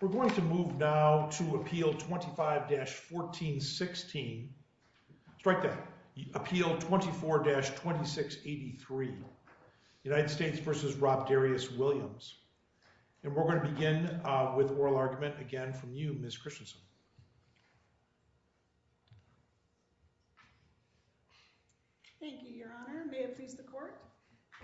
We're going to move now to Appeal 25-1416. Strike that. Appeal 24-2683. United States v. Robdarius Williams. And we're going to begin with oral argument again from you, Ms. Christensen. Thank you, Your Honor. May it please the Court,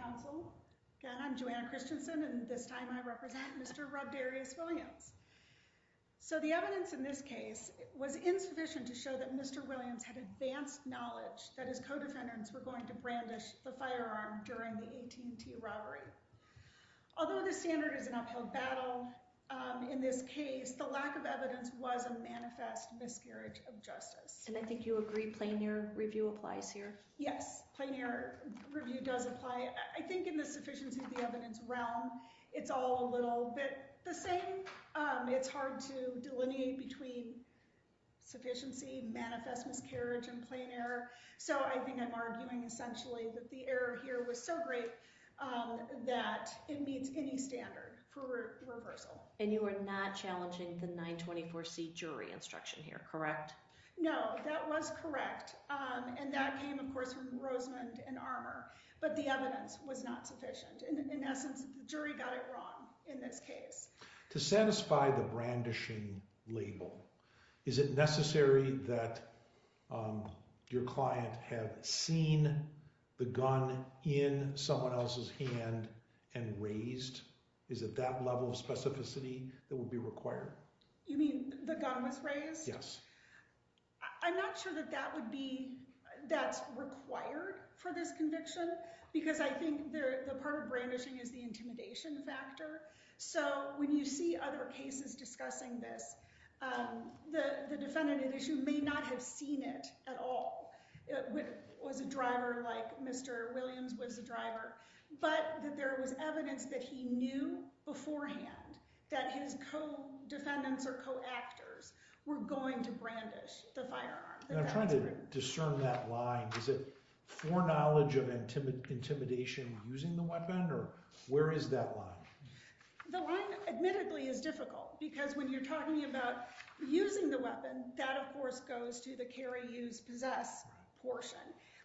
Counsel. Again, I'm Joanna Christensen and this time I represent Mr. Robdarius Williams. So the evidence in this case was insufficient to show that Mr. Williams had advanced knowledge that his co-defendants were going to brandish the firearm during the AT&T robbery. Although the standard is an uphill battle in this case, the lack of evidence was a manifest miscarriage of justice. And I think you agree plain-ear review applies here? Yes, plain-ear review does apply. I think in the sufficiency of the evidence realm, it's all a little bit the same. It's hard to delineate between sufficiency, manifest miscarriage, and plain error. So I think I'm arguing essentially that the error here was so great that it meets any standard for reversal. And you are not challenging the 924c jury instruction here, correct? No, that was correct. And that came, of course, from Rosemond and Armor. But the evidence was not sufficient. In essence, the jury got it wrong in this case. To satisfy the brandishing label, is it necessary that your client have seen the gun in someone else's hand and raised? Is it that level of specificity that would be required? You mean the gun was raised? Yes. I'm not sure that that's required for this conviction because I think the part of brandishing is the intimidation factor. So when you see other cases discussing this, the defendant at issue may not have seen it at all, was a driver like Mr. Williams was a driver, but that there was evidence that he knew beforehand that his co-defendants or co-actors were going to brandish the firearm. I'm trying to discern that line. Is it foreknowledge of intimidation using the weapon? Or where is that line? The line, admittedly, is difficult because when you're talking about using the weapon, that, of course, goes to the carry, use, possess portion.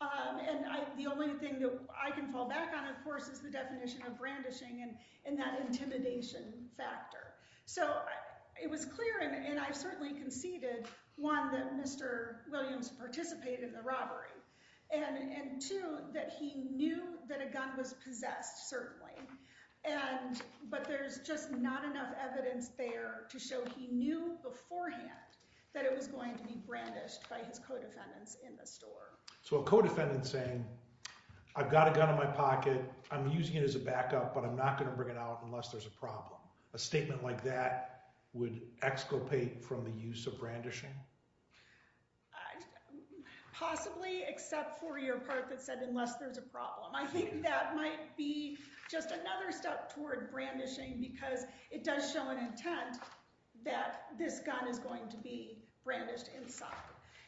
And the only thing that I can fall back on, of course, is the definition of brandishing and that intimidation factor. So it was clear, and I certainly conceded, one, that Mr. Williams participated in the robbery, and two, that he knew that a gun was possessed, certainly. But there's just not enough evidence there to show he knew beforehand that it was going to be brandished by his co-defendants in the store. So a co-defendant saying, I've got a gun in my pocket, I'm using it as a backup, but I'm not going to bring it out unless there's a problem, a statement like that would exculpate from the use of brandishing? Possibly, except for your part that said unless there's a problem. I think that might be just another step toward brandishing because it does show an intent that this gun is going to be brandished inside.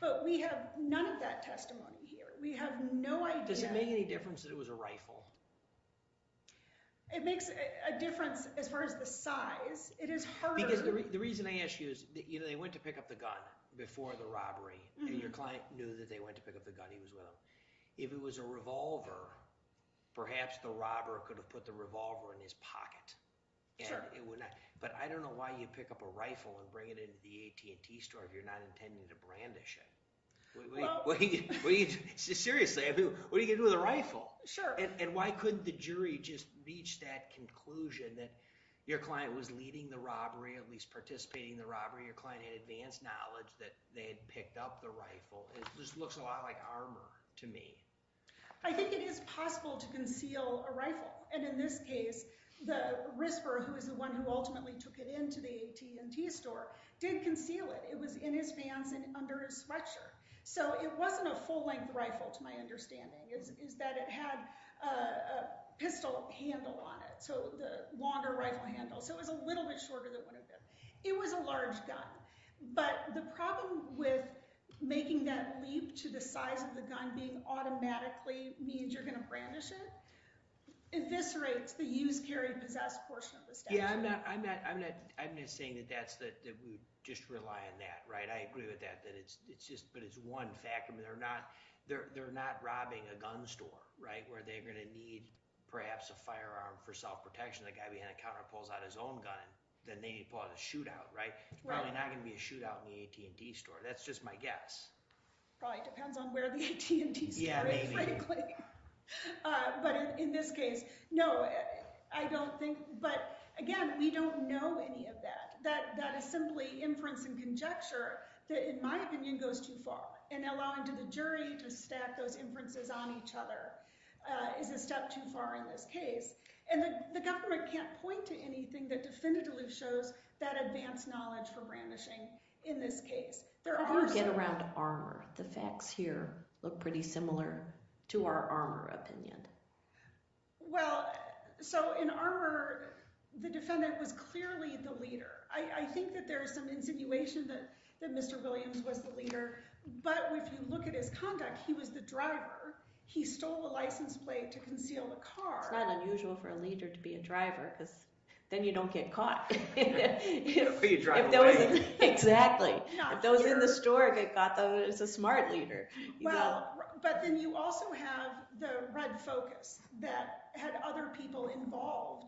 But we have none of that testimony here. We have no idea. Does it make any difference that it was a rifle? It makes a difference as far as the size. It is harder. Because the reason I ask you is, you know, they went to pick up the gun before the robbery, and your client knew that they went to pick up the gun, he was with them. If it was a revolver, perhaps the robber could have put the revolver in his pocket. But I don't know why you pick up a rifle and bring it into the AT&T store if you're not intending to brandish it. Seriously, what are you going to do with a rifle? And why couldn't the jury just reach that conclusion that your client was leading the robbery, at least participating in the robbery, your client had advanced knowledge that they had picked up the rifle. It just looks a lot like armor to me. I think it is possible to conceal a rifle, and in this case, the Risper, who is the one who ultimately took it into the AT&T store, did conceal it. It was in his pants and under his sweatshirt. So it wasn't a full-length rifle, to my understanding. It is that it had a pistol handle on it, so the longer rifle handle, so it was a little bit shorter than what it was. It was a large gun. But the problem with making that leap to the size of the gun being automatically means you're going to brandish it, eviscerates the use, carry, possess portion of the statute. Yeah, I'm not saying that we just rely on that, right? I agree with that. But it's one factor. I mean, they're not robbing a gun store, right, where they're going to need perhaps a firearm for self-protection. The guy behind the counter pulls out his own gun, then they need to pull out a shootout, right? It's probably not going to be a shootout in the AT&T store. That's just my guess. Probably depends on where the AT&T store is, frankly. But in this case, no, I don't think. But again, we don't know any of that. That is simply inference and conjecture that, in my opinion, goes too far. And allowing the jury to stack those inferences on each other is a step too far in this case. And the government can't point to anything that shows that advanced knowledge for brandishing in this case. How do you get around armor? The facts here look pretty similar to our armor opinion. Well, so in armor, the defendant was clearly the leader. I think that there is some insinuation that Mr. Williams was the leader. But if you look at his conduct, he was the driver. He stole a license plate to conceal the car. It's not unusual for a leader to be a driver because then you don't get caught. Or you drive away. Exactly. If that was in the store, they got that as a smart leader. Well, but then you also have the red focus that had other people involved.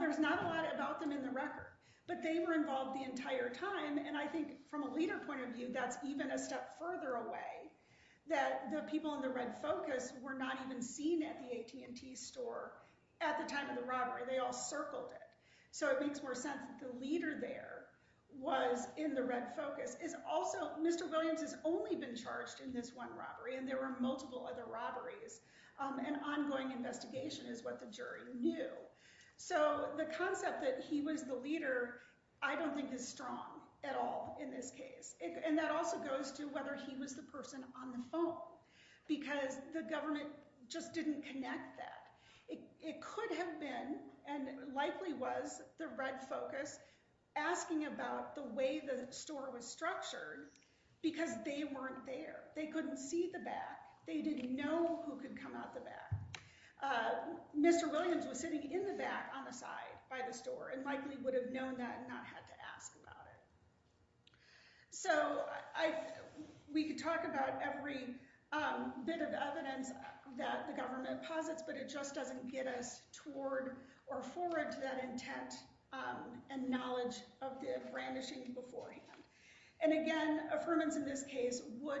There's not a lot about them in the record, but they were involved the entire time. And I think from a leader point of view, that's even a step further away, that the people in the red focus were not even seen at the AT&T store at the time of the robbery. They all circled it. So it makes more sense that the leader there was in the red focus. Mr. Williams has only been charged in this one robbery, and there were multiple other robberies. An ongoing investigation is what the jury knew. So the concept that he was the leader, I don't think is strong at all in this case. And that also goes to whether he was the It could have been, and likely was, the red focus asking about the way the store was structured because they weren't there. They couldn't see the back. They didn't know who could come out the back. Mr. Williams was sitting in the back on the side by the store and likely would have known that and not had to ask about it. So we could talk about every bit of evidence that the government posits, but it just doesn't get us toward or forward to that intent and knowledge of the brandishing beforehand. And again, affirmance in this case would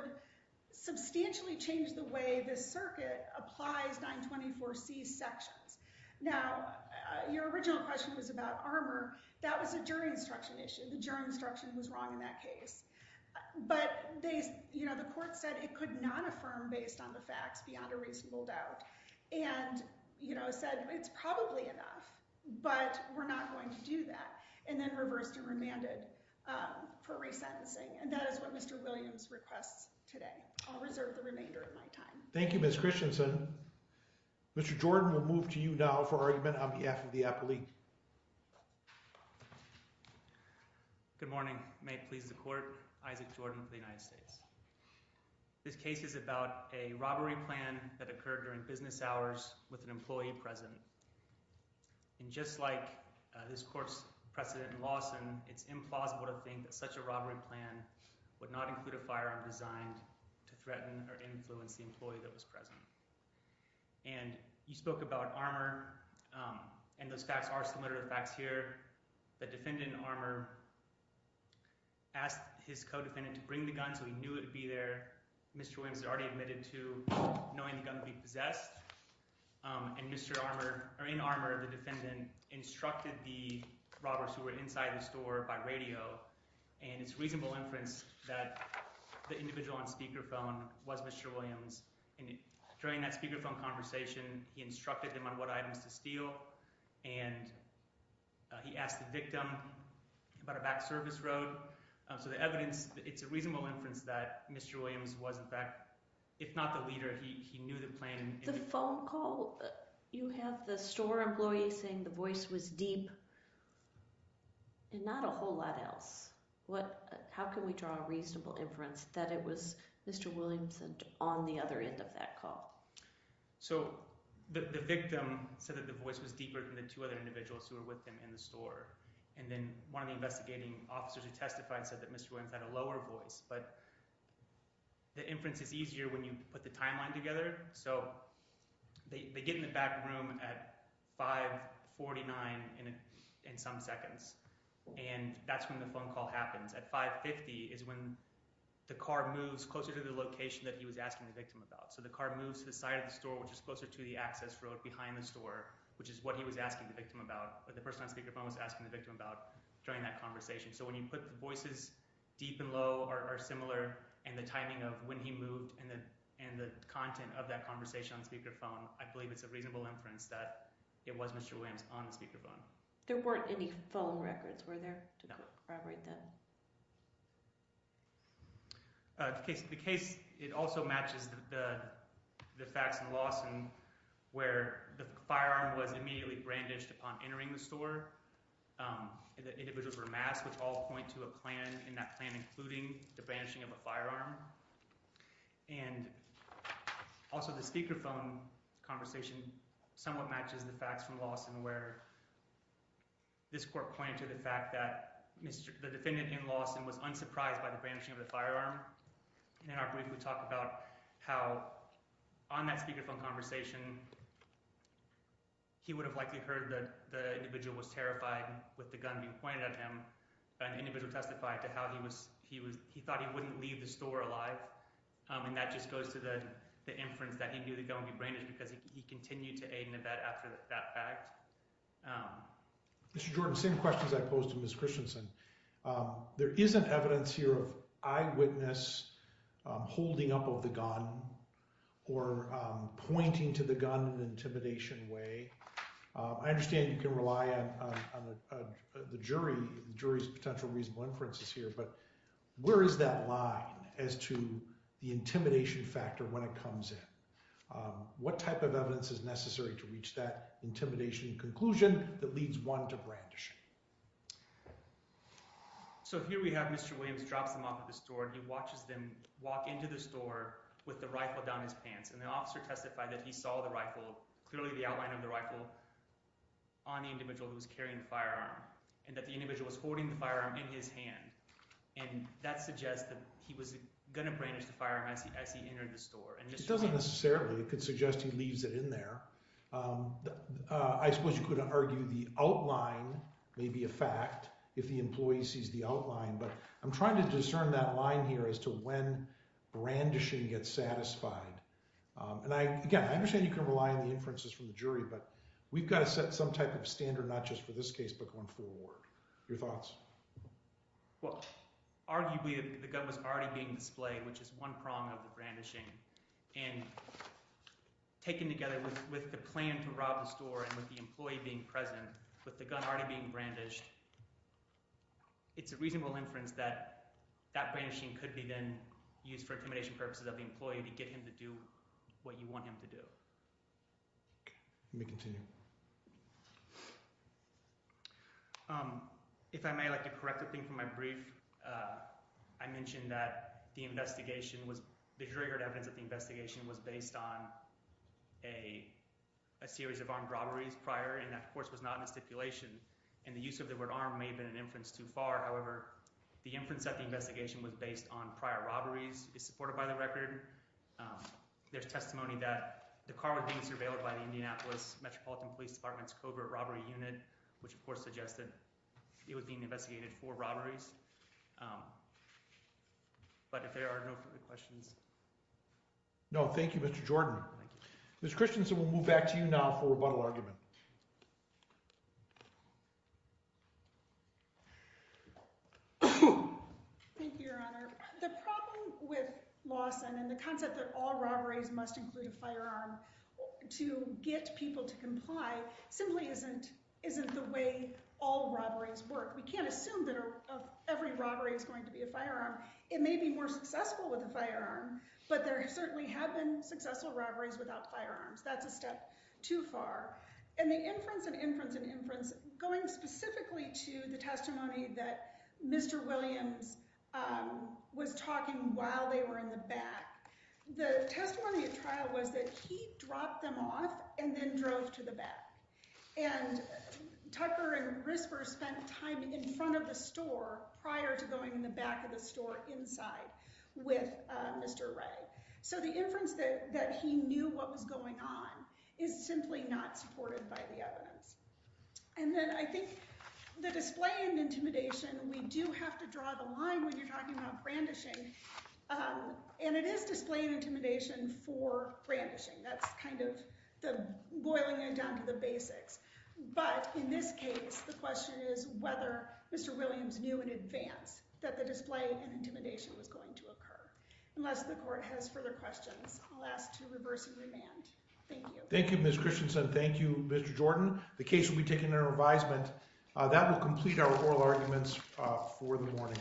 substantially change the way the circuit applies 924C sections. Now, your original question was about armor. That was a jury instruction issue. The jury instruction was wrong in that case. But the court said it could not affirm based on the facts beyond a reasonable doubt. And said it's probably enough, but we're not going to do that. And then reversed and remanded for resentencing. And that is what Mr. Williams requests today. I'll reserve the remainder of my time. Thank you, Ms. Christensen. Mr. Jordan, we'll move to you now for argument on behalf of the appellee. Good morning. May it please the court. Isaac Jordan of the United States. This case is about a robbery plan that occurred during business hours with an employee present. And just like this court's precedent in Lawson, it's implausible to think that such a robbery plan would not include a firearm designed to threaten or influence the employee that was present. And you spoke about armor and those facts are similar to the facts here. The defendant in armor asked his co-defendant to bring the gun so he knew it would be there. Mr. Williams had already admitted to knowing the gun would be possessed. And Mr. Armor, or in armor, the defendant instructed the robbers who were inside the store by radio. And it's reasonable inference that the individual on speakerphone was Mr. Williams. And during that speakerphone conversation, he instructed them on what items to steal and he asked the victim about a back service road. So the evidence, it's a reasonable inference that Mr. Williams was in fact, if not the leader, he knew the plan. The phone call, you have the store employee saying the voice was deep and not a whole lot else. How can we draw a reasonable inference that it was Mr. Williams on the other end of that call? So the victim said that the voice was deeper than the two other individuals who were with him in the store. And then one of the investigating officers who testified said that Mr. Williams had a lower voice. But the inference is easier when you put the timeline together. So they get in the back room at 5.49 in some seconds. And that's when the phone call happens. At 5.50 is when the car moves closer to the location that he was asking the victim about. So the car moves to the side of the store, which is closer to the access road behind the store, which is what he was asking the victim about. But the person on speakerphone was asking the victim about during that conversation. So when you put the voices deep and low are similar and the timing of when he moved and the content of that conversation on speakerphone, I believe it's a reasonable inference that it was Mr. Williams on the speakerphone. There weren't any phone records were there to corroborate that? No. The case also matches the facts in Lawson where the firearm was immediately brandished upon entering the store. The individuals were masked, which all point to that plan including the brandishing of a firearm. And also the speakerphone conversation somewhat matches the facts from Lawson where this court pointed to the fact that the defendant in Lawson was unsurprised by the brandishing of the firearm. And in our brief we talk about how on that speakerphone conversation he would have likely heard that the individual was terrified with the gun being pointed at him. But an individual testified to how he thought he wouldn't leave the store alive. And that just goes to the inference that he knew the gun would be brandished because he continued to aid and abet after that fact. Mr. Jordan, same questions I posed to Ms. Christensen. There isn't evidence here of eyewitness holding up of the gun or pointing to the gun in an intimidation way. I understand you can rely on the jury's potential reasonable inferences here, but where is that line as to the intimidation factor when it comes in? What type of evidence is necessary to reach that intimidation conclusion that leads one to brandishing? So here we have Mr. Williams drops them off at the store and he watches them walk into the store with the rifle down his pants. And the officer testified that he saw the rifle, clearly the outline of the rifle, on the individual who was carrying the firearm. And that the individual was holding the firearm in his hand. And that suggests that he was going to brandish the firearm as he entered the store. It doesn't necessarily suggest he leaves it in there. I suppose you could argue the outline may be a fact if the employee sees the outline. But I'm trying to discern that line here as to when brandishing gets satisfied. And again, I understand you can rely on the inferences from the jury, but we've got to set some type of standard, not just for this case, but going forward. Your thoughts? Well, arguably the gun was already being displayed, which is one prong of the brandishing. And taken together with the plan to rob the store and with the employee being present, with the gun already being brandished, it's a reasonable inference that that brandishing could be then used for intimidation purposes of the employee to get him to do what you want him to do. Let me continue. If I may, I'd like to correct a thing from my brief. I mentioned that the investigation was, the jury heard evidence that the investigation was based on a series of armed robberies prior, and that, of course, was not in a stipulation. And the use of the word armed may have been an inference too far. However, the inference that the investigation was based on prior robberies is supported by the record. There's testimony that the car was being surveilled by the Indianapolis Metropolitan Police Department's covert robbery unit, which, of course, suggested it was being investigated for robberies. But if there are no further questions. No, thank you, Mr. Jordan. Ms. Christensen, we'll move back to you now for rebuttal argument. Thank you, Your Honor. The problem with Lawson and the concept that all robberies must include a firearm to get people to comply simply isn't the way all robberies work. We can't assume that every robbery is going to be a firearm. It may be more successful with a firearm, but there certainly have been successful robberies without firearms. That's a step too far. And the inference and inference and inference, going specifically to the testimony that Mr. Williams was talking while they were in the back, the testimony at trial was that he dropped them off and then drove to the back. And Tucker and Grisper spent time in front of the prior to going in the back of the store inside with Mr. Ray. So the inference that he knew what was going on is simply not supported by the evidence. And then I think the display and intimidation, we do have to draw the line when you're talking about brandishing. And it is display and intimidation for brandishing. That's kind of the boiling it down to the basics. But in this case, the question is whether Mr. Williams knew in advance that the display and intimidation was going to occur. Unless the court has further questions, I'll ask to reverse the remand. Thank you. Thank you, Ms. Christensen. Thank you, Mr. Jordan. The case will be taken in That will complete our oral arguments for the morning. Thank you.